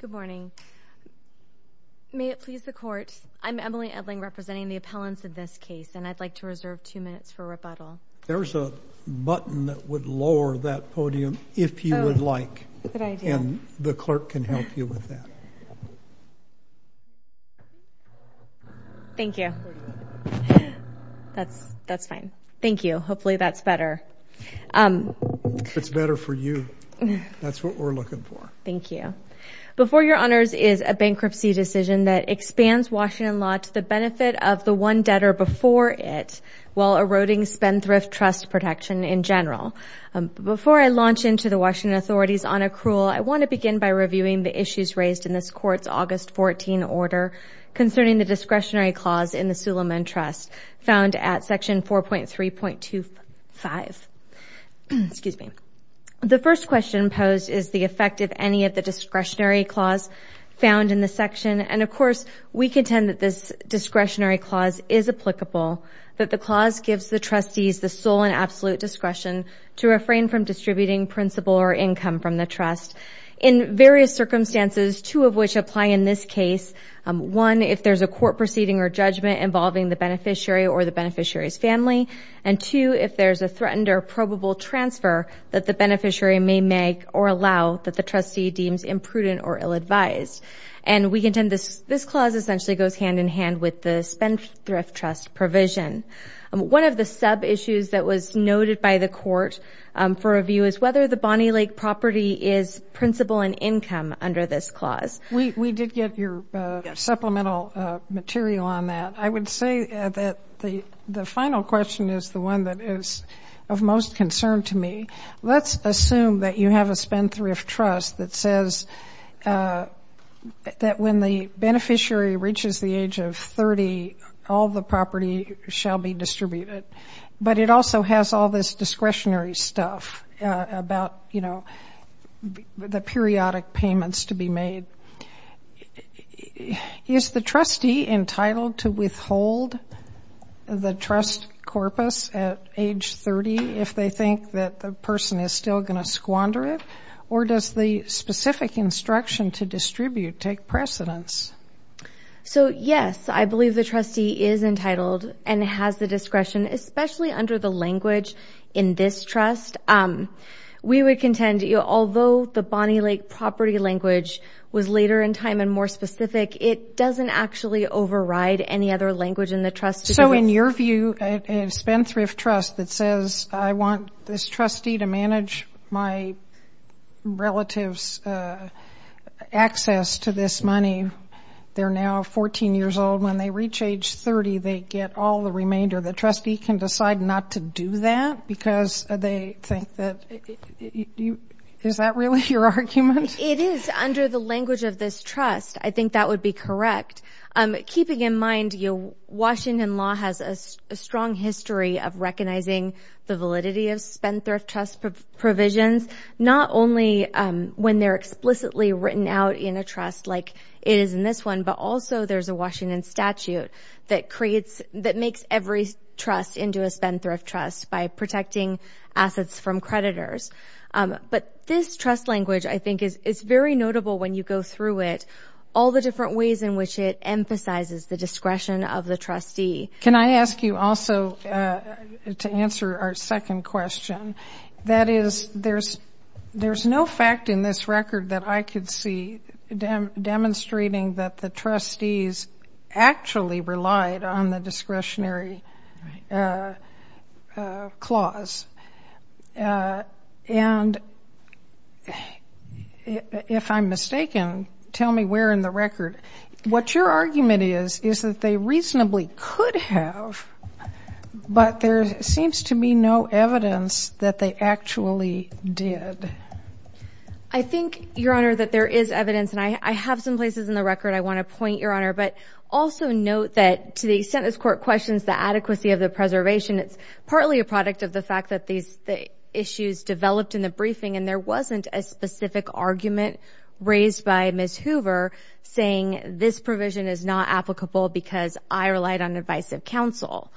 Good morning. May it please the court, I'm Emily Edling representing the appellants in this case and I'd like to reserve two minutes for rebuttal. There's a button that would lower that podium if you would like and the clerk can help you with that. Thank you. That's that's fine. Thank you. Hopefully that's better. It's better for you. That's what we're looking for. Thank you. Before Your Honors is a bankruptcy decision that expands Washington law to the benefit of the one debtor before it while eroding spendthrift trust protection in general. Before I launch into the Washington authorities on accrual, I want to begin by reviewing the issues raised in this court's August 14 order concerning the excuse me the first question posed is the effect of any of the discretionary clause found in the section and of course we contend that this discretionary clause is applicable that the clause gives the trustees the sole and absolute discretion to refrain from distributing principal or income from the trust in various circumstances two of which apply in this case one if there's a court proceeding or judgment involving the beneficiary or the probable transfer that the beneficiary may make or allow that the trustee deems imprudent or ill-advised and we contend this this clause essentially goes hand in hand with the spendthrift trust provision. One of the sub issues that was noted by the court for review is whether the Bonney Lake property is principal and income under this clause. We did get your supplemental material on that. I was concerned to me let's assume that you have a spendthrift trust that says that when the beneficiary reaches the age of 30 all the property shall be distributed but it also has all this discretionary stuff about you know the periodic payments to be made. Is the trustee entitled to withhold the trust corpus at age 30 if they think that the person is still going to squander it or does the specific instruction to distribute take precedence? So yes I believe the trustee is entitled and has the discretion especially under the language in this trust. We would contend although the Bonney Lake property language was later in time and more specific it doesn't actually override any other language in the trust. So in your view a spendthrift trust that says I want this trustee to manage my relatives access to this money they're now 14 years old when they reach age 30 they get all the remainder. The trustee can decide not to do that because they think that you is that really your argument? It is under the language of this trust. I think that would be correct. Keeping in mind Washington law has a strong history of recognizing the validity of spendthrift trust provisions not only when they're explicitly written out in a trust like it is in this one but also there's a Washington statute that creates that makes every trust into a spendthrift trust by protecting assets from creditors. But this trust language I you go through it all the different ways in which it emphasizes the discretion of the trustee. Can I ask you also to answer our second question that is there's there's no fact in this record that I could see demonstrating that the trustees actually relied on the discretionary clause and if I'm mistaken tell me where in the record. What your argument is is that they reasonably could have but there seems to be no evidence that they actually did. I think your honor that there is evidence and I have some places in the record I want to point your honor but also note that to the sentence court questions the adequacy of the preservation it's partly a product of the fact that these the developed in the briefing and there wasn't a specific argument raised by Ms. Hoover saying this provision is not applicable because I relied on advice of counsel.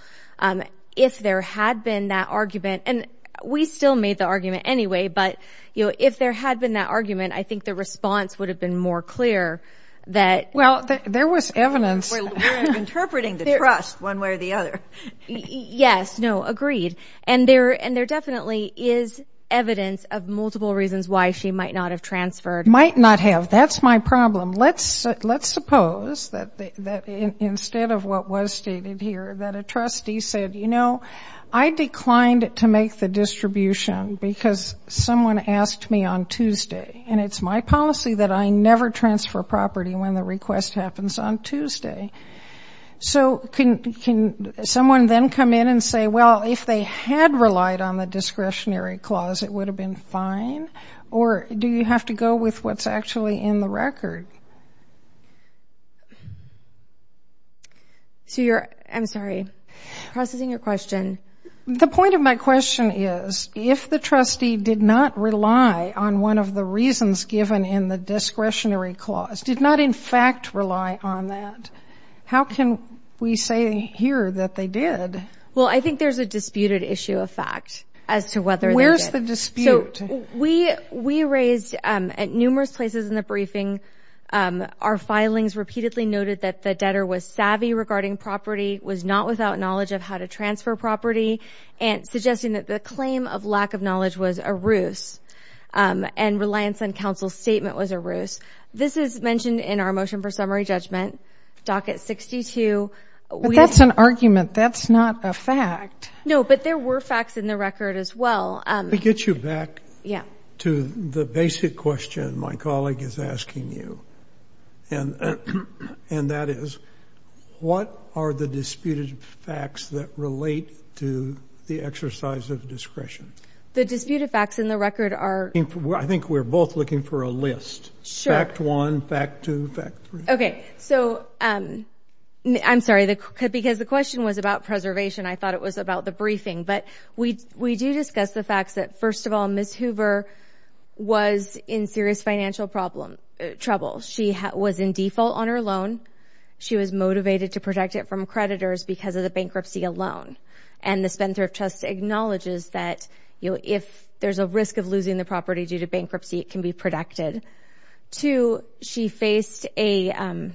If there had been that argument and we still made the argument anyway but you know if there had been that argument I think the response would have been more clear that. Well there was evidence interpreting the trust one way the other. Yes no agreed and there and there definitely is evidence of multiple reasons why she might not have transferred. Might not have that's my problem let's let's suppose that instead of what was stated here that a trustee said you know I declined to make the distribution because someone asked me on Tuesday and it's my policy that I never transfer property when the request happens on Tuesday. So can someone then come in and say well if they had relied on the discretionary clause it would have been fine or do you have to go with what's actually in the record? So you're I'm sorry processing your question. The point of my question is if the trustee did not rely on one of the reasons given in the discretionary clause did not in fact rely on that how can we say here that they did? Well I think there's a disputed issue of fact as to whether where's the dispute we we raised at numerous places in the briefing our filings repeatedly noted that the debtor was savvy regarding property was not without knowledge of how to transfer property and suggesting that the claim of lack of knowledge was a ruse and reliance on counsel statement was a ruse. This is mentioned in our motion for summary judgment docket 62. That's an argument that's not a fact. No but there were facts in the record as well. To get you back to the basic question my colleague is asking you and and that is what are the disputed facts that relate to the exercise of discretion? The disputed facts in the record are. I think we're both looking for a list. Fact one, fact two, fact three. Okay so I'm sorry the because the question was about preservation I thought it was about the briefing but we we do discuss the facts that first of all Miss Hoover was in serious financial problem trouble she was in default on her loan she was motivated to protect it from creditors because of the bankruptcy alone and the Spencer of trust acknowledges that you know if there's a risk of losing the property due to bankruptcy it can be protected. Two, she faced a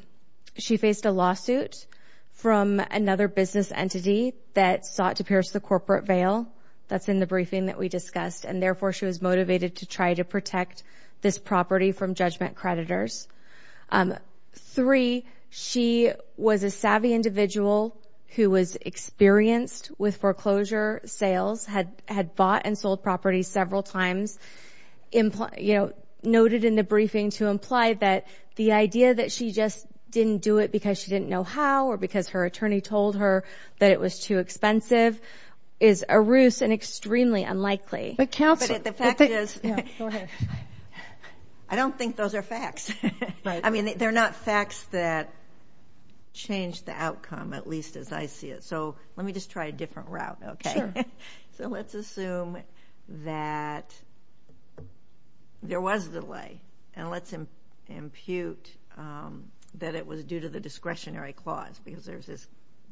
she faced a lawsuit from another business entity that sought to pierce the corporate veil that's in the briefing that we discussed and therefore she was motivated to try to protect this property from judgment creditors. Three, she was a savvy individual who was experienced with foreclosure sales had had bought and sold property several times imply you know noted in the briefing to imply that the idea that she just didn't do it because she didn't know how or because her attorney told her that it was too expensive is a ruse and extremely unlikely. But counsel the fact is I don't think those are facts I mean they're not facts that changed the outcome at least as I see it so let me just try a different route okay so let's assume that there was delay and let's impute that it was due to the discretionary clause because there's this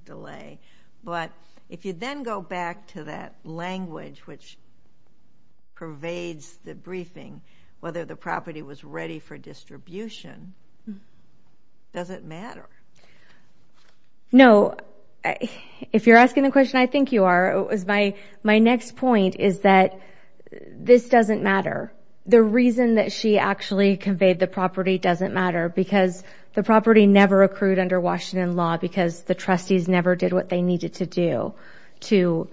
delay but if you then go back to that language which pervades the briefing whether the property was ready for distribution does it matter? No if you're asking the question I think you are it was my my next point is that this doesn't matter the reason that she actually conveyed the property doesn't matter because the property never accrued under Washington law because the trustees never did what they needed to do to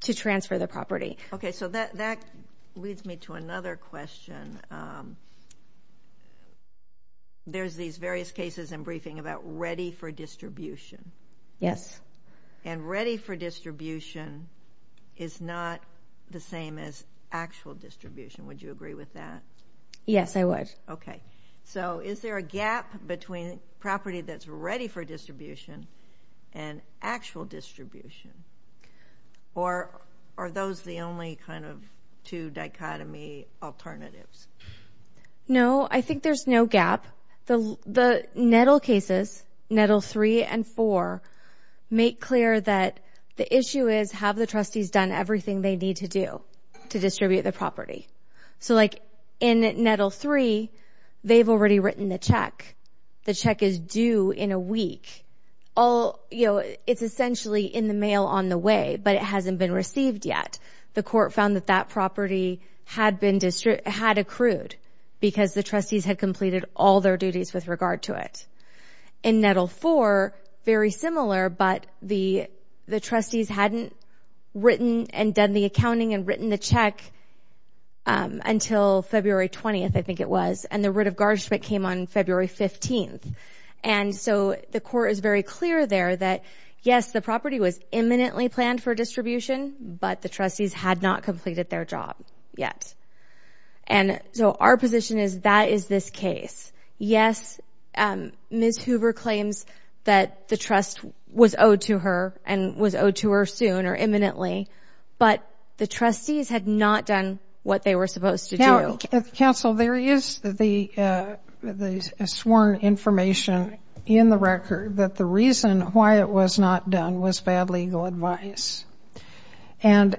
to transfer the leads me to another question there's these various cases in briefing about ready for distribution yes and ready for distribution is not the same as actual distribution would you agree with that? Yes I would. Okay so is there a gap between property that's ready for distribution and actual distribution or are those the only kind of two dichotomy alternatives? No I think there's no gap the the nettle cases nettle three and four make clear that the issue is have the trustees done everything they need to do to distribute the property so like in nettle three they've already written the check the check is due in a week all you know it's essentially in the mail on the way but it hasn't been received yet the court found that that property had been district had accrued because the trustees had completed all their duties with regard to it in nettle for very similar but the the trustees hadn't written and done the accounting and written the check until February 20th I think it was and the writ of garnish but came on February 15th and so the court is very clear there that yes the property was imminently planned for distribution but the trustees had not completed their job yet and so our position is that is this case yes Ms. Hoover claims that the trust was owed to her and was owed to her soon or imminently but the trustees had not done what they were supposed to do counsel there is the the sworn information in the record that the reason why it was not done was bad legal advice and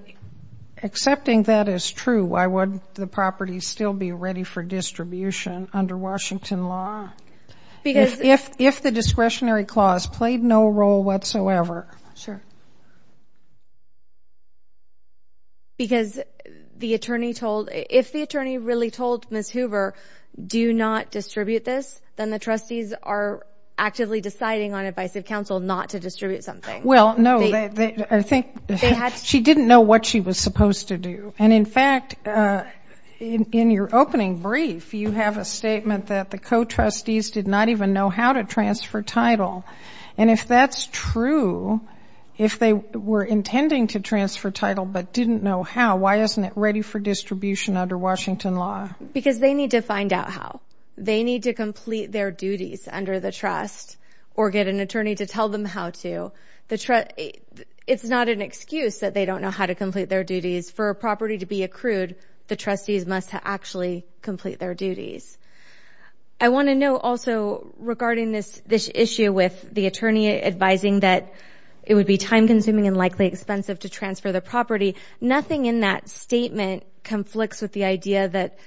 accepting that is true why would the property still be ready for distribution under Washington law because if if the discretionary clause played no role whatsoever sure because the attorney told if the attorney really told miss Hoover do not distribute this then the trustees are actively deciding on advice of counsel not to distribute something well no I think she didn't know what she was supposed to do and in fact in your opening brief you have a statement that the co-trustees did not even know how to transfer title and if that's true if they were intending to transfer title but didn't know how why isn't it ready for distribution under Washington law because they need to find out how they need to complete their duties under the trust or get an attorney to tell them how to the trust it's not an excuse that they don't know how to complete their duties for a property to be accrued the trustees must actually complete their duties I want to know also regarding this this issue with the attorney advising that it would be time-consuming and likely expensive to transfer the property nothing in that statement conflicts with the idea that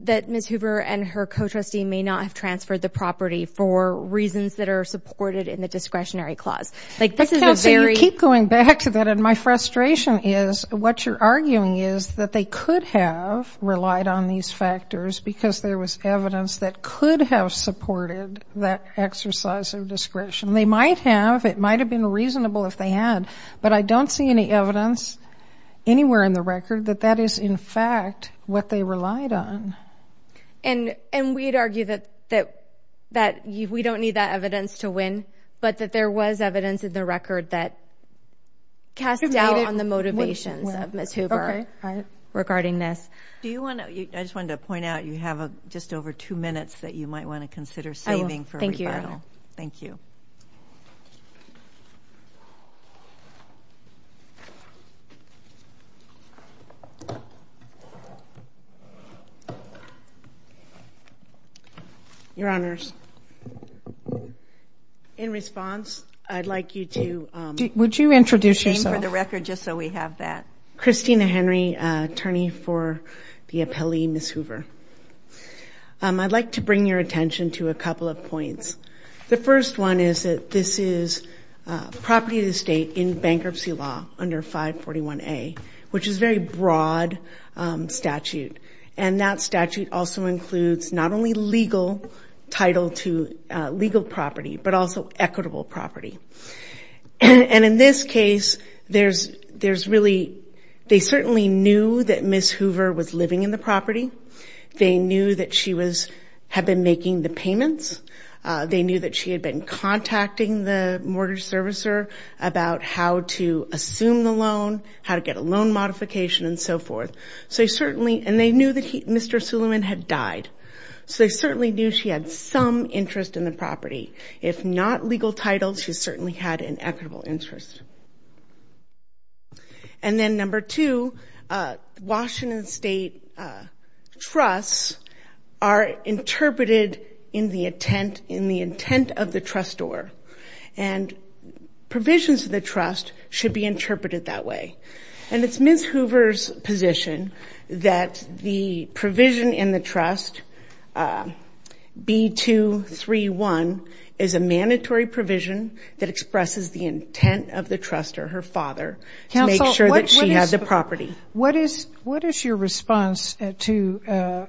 that miss Hoover and her co-trustee may not have transferred the property for reasons that are supported in the discretionary clause like this is very keep going back to that and my frustration is what you're arguing is that they could have relied on these factors because there was evidence that could have supported that exercise of discretion they might have it might have been reasonable if they had but I don't see any evidence anywhere in the record that that is in fact what they relied on and and we'd argue that that that you we don't need that evidence to win but that there was evidence in the record that cast doubt on the motivations of Miss Hoover regarding this do you want to I just wanted to point out you have a just over two minutes that you might want to consider saving for thank you thank you your honors in response I'd like you to would you introduce yourself for the record just so we have that Christina Henry attorney for the appellee miss I'd like to bring your attention to a couple of points the first one is that this is property of the state in bankruptcy law under 541 a which is very broad statute and that statute also includes not only legal title to legal property but also equitable property and in this case there's there's really they knew that she was have been making the payments they knew that she had been contacting the mortgage servicer about how to assume the loan how to get a loan modification and so forth so he certainly and they knew that he mr. Suleman had died so they certainly knew she had some interest in the property if not legal titles she certainly had an equitable interest and then number two Washington State trusts are interpreted in the intent in the intent of the trustor and provisions of the trust should be interpreted that way and it's ms. Hoover's position that the provision in the trust b-2-3-1 is a mandatory provision that expresses the intent of the trust or her father to make sure the property what is what is your response to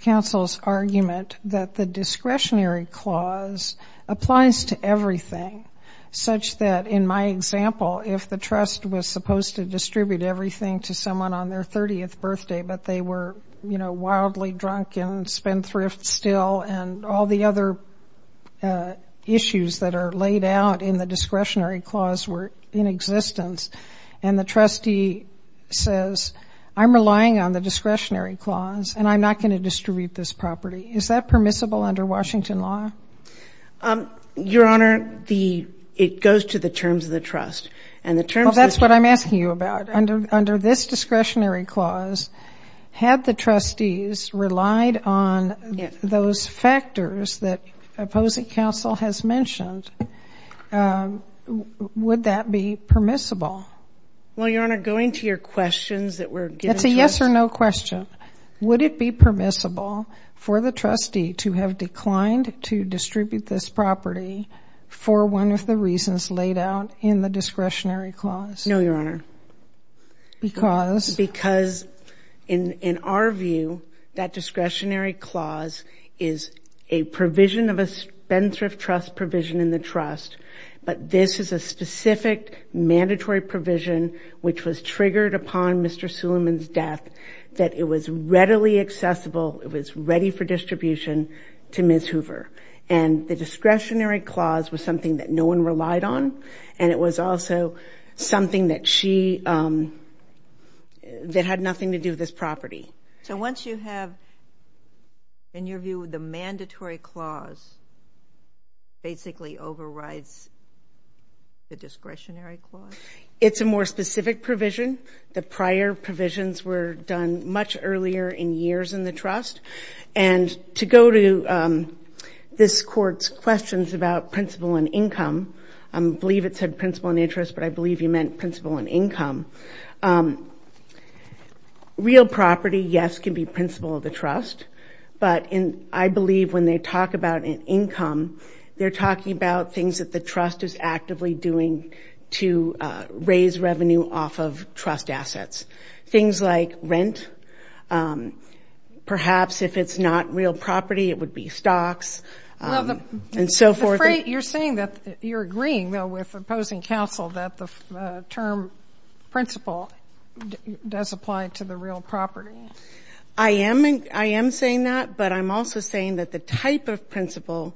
counsel's argument that the discretionary clause applies to everything such that in my example if the trust was supposed to distribute everything to someone on their 30th birthday but they were you know wildly drunk and spend thrift still and all the other issues that are laid out in the discretionary clause were in existence and the trustee says I'm relying on the discretionary clause and I'm not going to distribute this property is that permissible under Washington law your honor the it goes to the terms of the trust and the term that's what I'm asking you about under under this discretionary clause had the trustees relied on those factors that opposing counsel has mentioned would that be permissible well your honor going to your questions that we're getting yes or no question would it be permissible for the trustee to have declined to distribute this property for one of the reasons laid out in the discretionary clause no your honor because because in in our view that discretionary clause is a provision of a Spencer of trust provision in the trust but this is a mandatory provision which was triggered upon mr. Suleman's death that it was readily accessible it was ready for distribution to miss Hoover and the discretionary clause was something that no one relied on and it was also something that she that had nothing to do this property so once you have in your view the mandatory clause basically overrides the discretionary clause it's a more specific provision the prior provisions were done much earlier in years in the trust and to go to this courts questions about principle and income I believe it said principle and interest but I believe you meant principle and income real property yes can be principle of the trust but in I believe when they talk about an income they're talking about things that the trust is actively doing to raise revenue off of trust assets things like rent perhaps if it's not real property it would be stocks and so forth you're saying that you're agreeing though with opposing counsel that the term principle does apply to the real property I am I am saying that but I'm also saying that the type of principle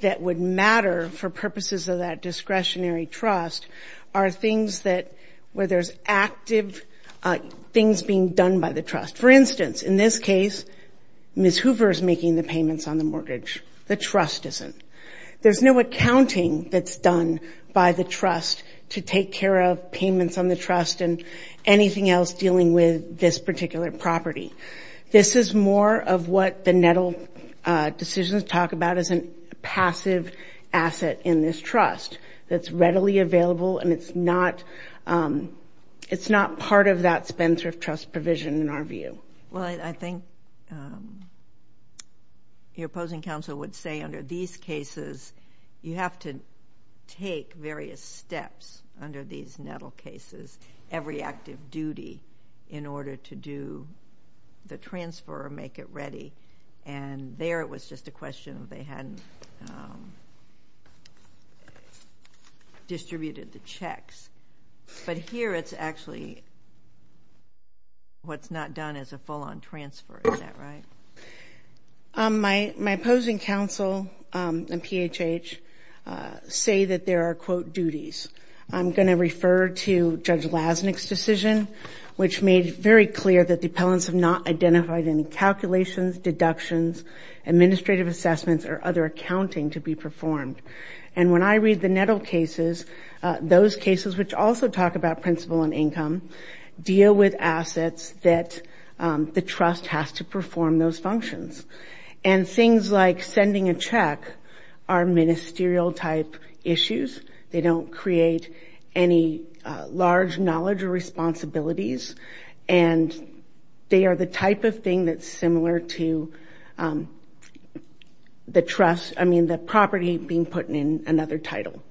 that would matter for purposes of that discretionary trust are things that where there's active things being done by the trust for instance in this case miss Hoover is making the payments on the mortgage the trust isn't there's no accounting that's done by the trust to take care of payments on the trust and anything else dealing with this particular property this is more of what the nettle decisions talk about as an asset in this trust that's readily available and it's not it's not part of that Spencer trust provision in our view well I think your opposing counsel would say under these cases you have to take various steps under these nettle cases every active duty in order to do the transfer make it ready and there it was just a question of they hadn't distributed the checks but here it's actually what's not done as a full-on transfer right my my opposing counsel and PHH say that there are quote duties I'm going to refer to judge lasnik's decision which made very clear that the appellants have not identified any calculations deductions administrative assessments or other accounting to be performed and when I read the nettle cases those cases which also talk about principal and income deal with assets that the trust has to perform those functions and things like sending a check our ministerial type issues they don't create any large knowledge or responsibilities and they are the type of thing that's similar to the trust I mean the property being put in another title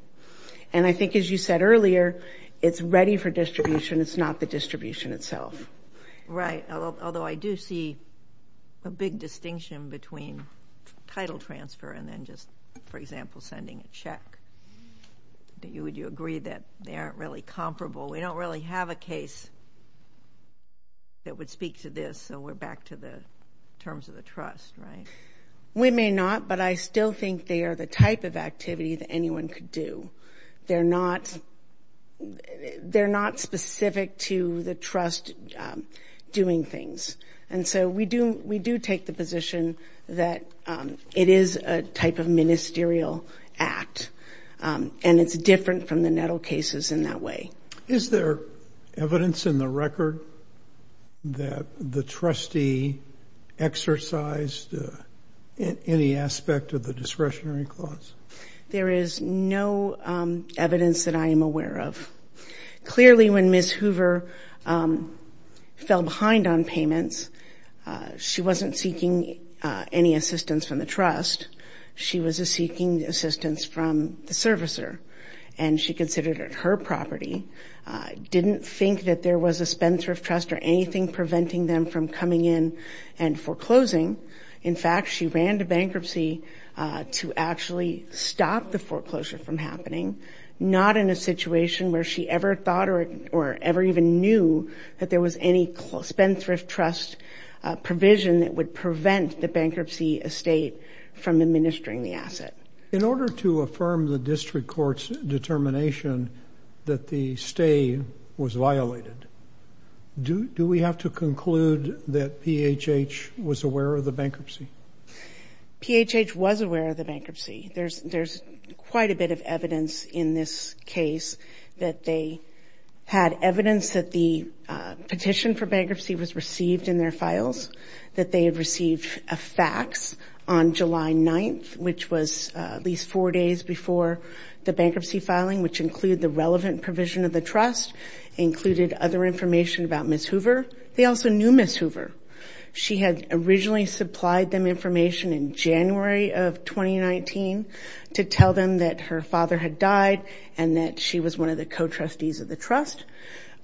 and I think as you said earlier it's ready for distribution it's not the distribution itself right although I do see a big distinction between title transfer and then just for example sending a check that you would you agree that they aren't really comparable we don't really have a case that would speak to this so we're back to the terms of the trust right we may not but I still think they are the type of activity that anyone could do they're not they're not specific to the trust doing things and so we do we do take the position that it is a type of ministerial act and it's different from the nettle cases in that way is there evidence in the record that the trustee exercised any aspect of the discretionary clause there is no evidence that I am aware of clearly when miss Hoover fell behind on payments she wasn't seeking any assistance from the trust she was a seeking assistance from the servicer and she considered it her property didn't think that there was a Spencer of trust or anything preventing them from coming in and foreclosing in fact she ran to bankruptcy to actually stop the foreclosure from happening not in a situation where she ever thought or or ever even knew that there was any close spendthrift trust provision that would prevent the bankruptcy estate from administering the asset in order to that the stay was violated do we have to conclude that PHH was aware of the bankruptcy PHH was aware of the bankruptcy there's there's quite a bit of evidence in this case that they had evidence that the petition for bankruptcy was received in their files that they have received a fax on July 9th which was at least four days before the bankruptcy filing which include the relevant provision of the trust included other information about miss Hoover they also knew miss Hoover she had originally supplied them information in January of 2019 to tell them that her father had died and that she was one of the co-trustees of the trust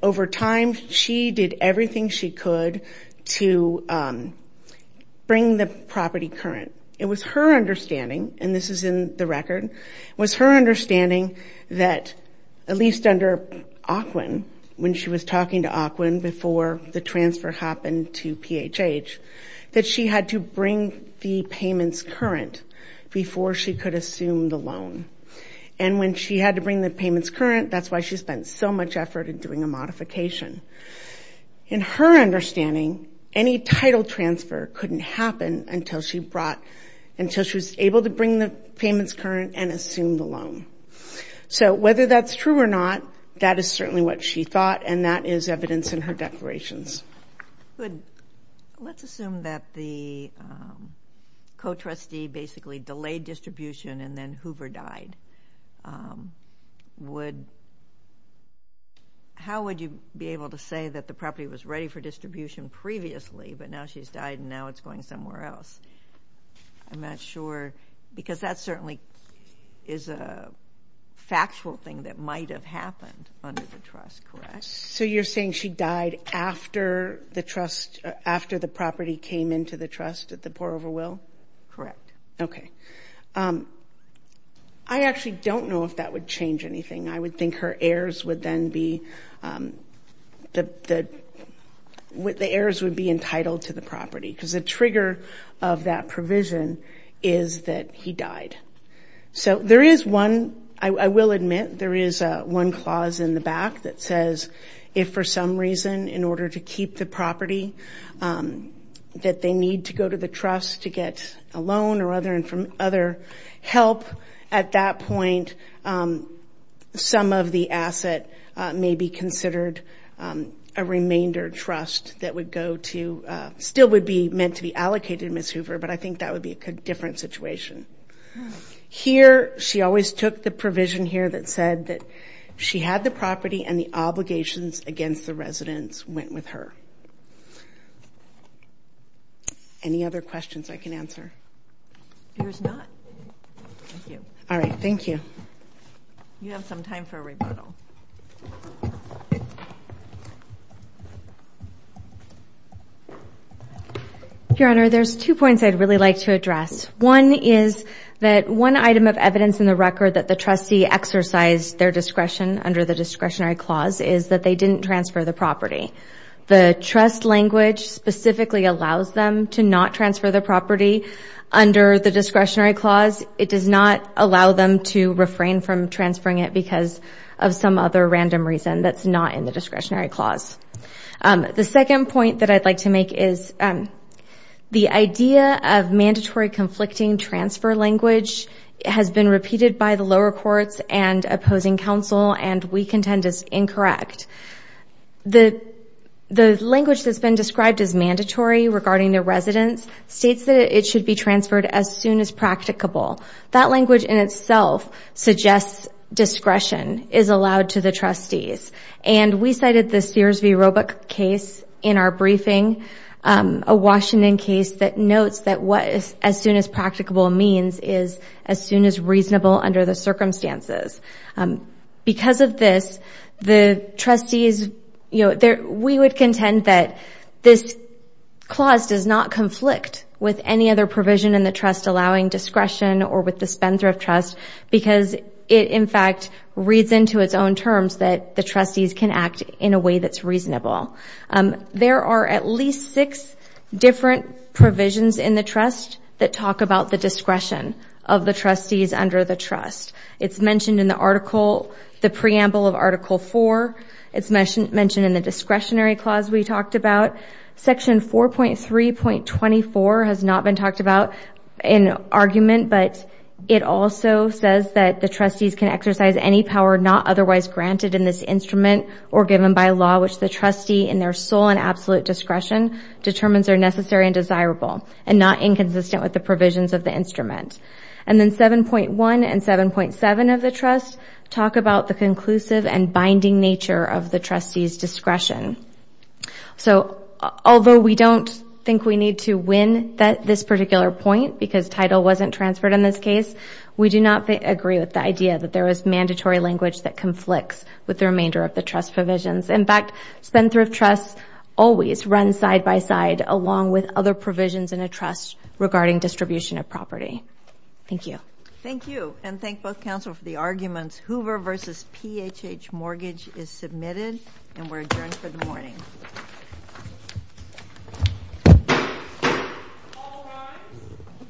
over time she did everything she could to bring the property current it was her understanding and this is in the record was her understanding that at least under aquan when she was talking to aquan before the transfer happened to PHH that she had to bring the payments current before she could assume the loan and when she had to bring the payments current that's why she spent so much effort in doing a modification in her understanding any title transfer couldn't happen until she brought until she was able to bring the payments current and assume the loan so whether that's true or not that is certainly what she thought and that is evidence in her declarations good let's assume that the co-trustee basically delayed distribution and then Hoover died would how would you be able to say that the property was ready for distribution previously but now she's died and now it's going somewhere else I'm not sure because that certainly is a factual thing that might have happened under the trust correct so you're saying she died after the trust after the property came into the trust at the poor over will correct okay I actually don't know if that would change anything I would think her heirs would then be the what the heirs would be entitled to the property because the trigger of that provision is that he died so there is one I will admit there is one clause in the back that says if for some reason in order to keep the property that they need to go to the trust to get a loan or other and from other help at that point some of the asset may be considered a remainder trust that would go to still would be meant to be allocated miss Hoover but I think that would be a different situation here she always took the provision here that said that she had the property and the obligations against the residents went with her any other questions I can answer here's not all you have some time for a rebuttal your honor there's two points I'd really like to address one is that one item of evidence in the record that the trustee exercised their discretion under the discretionary clause is that they didn't transfer the property the trust language specifically allows them to not transfer the property under the discretionary clause it does not allow them to refrain from transferring it because of some other random reason that's not in the discretionary clause the second point that I'd like to make is the idea of mandatory conflicting transfer language has been repeated by the lower courts and opposing counsel and we contend is incorrect the the language that's been described as mandatory regarding the residents states that it should be transferred as soon as practicable that language in itself suggests discretion is allowed to the trustees and we cited this year's v-robot case in our briefing a Washington case that notes that was as soon as practicable means is as soon as reasonable under the circumstances because of this the trustees you know that this clause does not conflict with any other provision in the trust allowing discretion or with the spendthrift trust because it in fact reads into its own terms that the trustees can act in a way that's reasonable there are at least six different provisions in the trust that talk about the discretion of the trustees under the trust it's mentioned in the article the preamble of article 4 it's mentioned mentioned in the about section 4.3 point 24 has not been talked about in argument but it also says that the trustees can exercise any power not otherwise granted in this instrument or given by law which the trustee in their sole and absolute discretion determines are necessary and desirable and not inconsistent with the provisions of the instrument and then 7.1 and 7.7 of the trust talk about the although we don't think we need to win that this particular point because title wasn't transferred in this case we do not agree with the idea that there was mandatory language that conflicts with the remainder of the trust provisions in fact spendthrift trusts always run side by side along with other provisions in a trust regarding distribution of property thank you thank you and thank both counsel for the arguments Hoover versus PHH mortgage is submitted and we're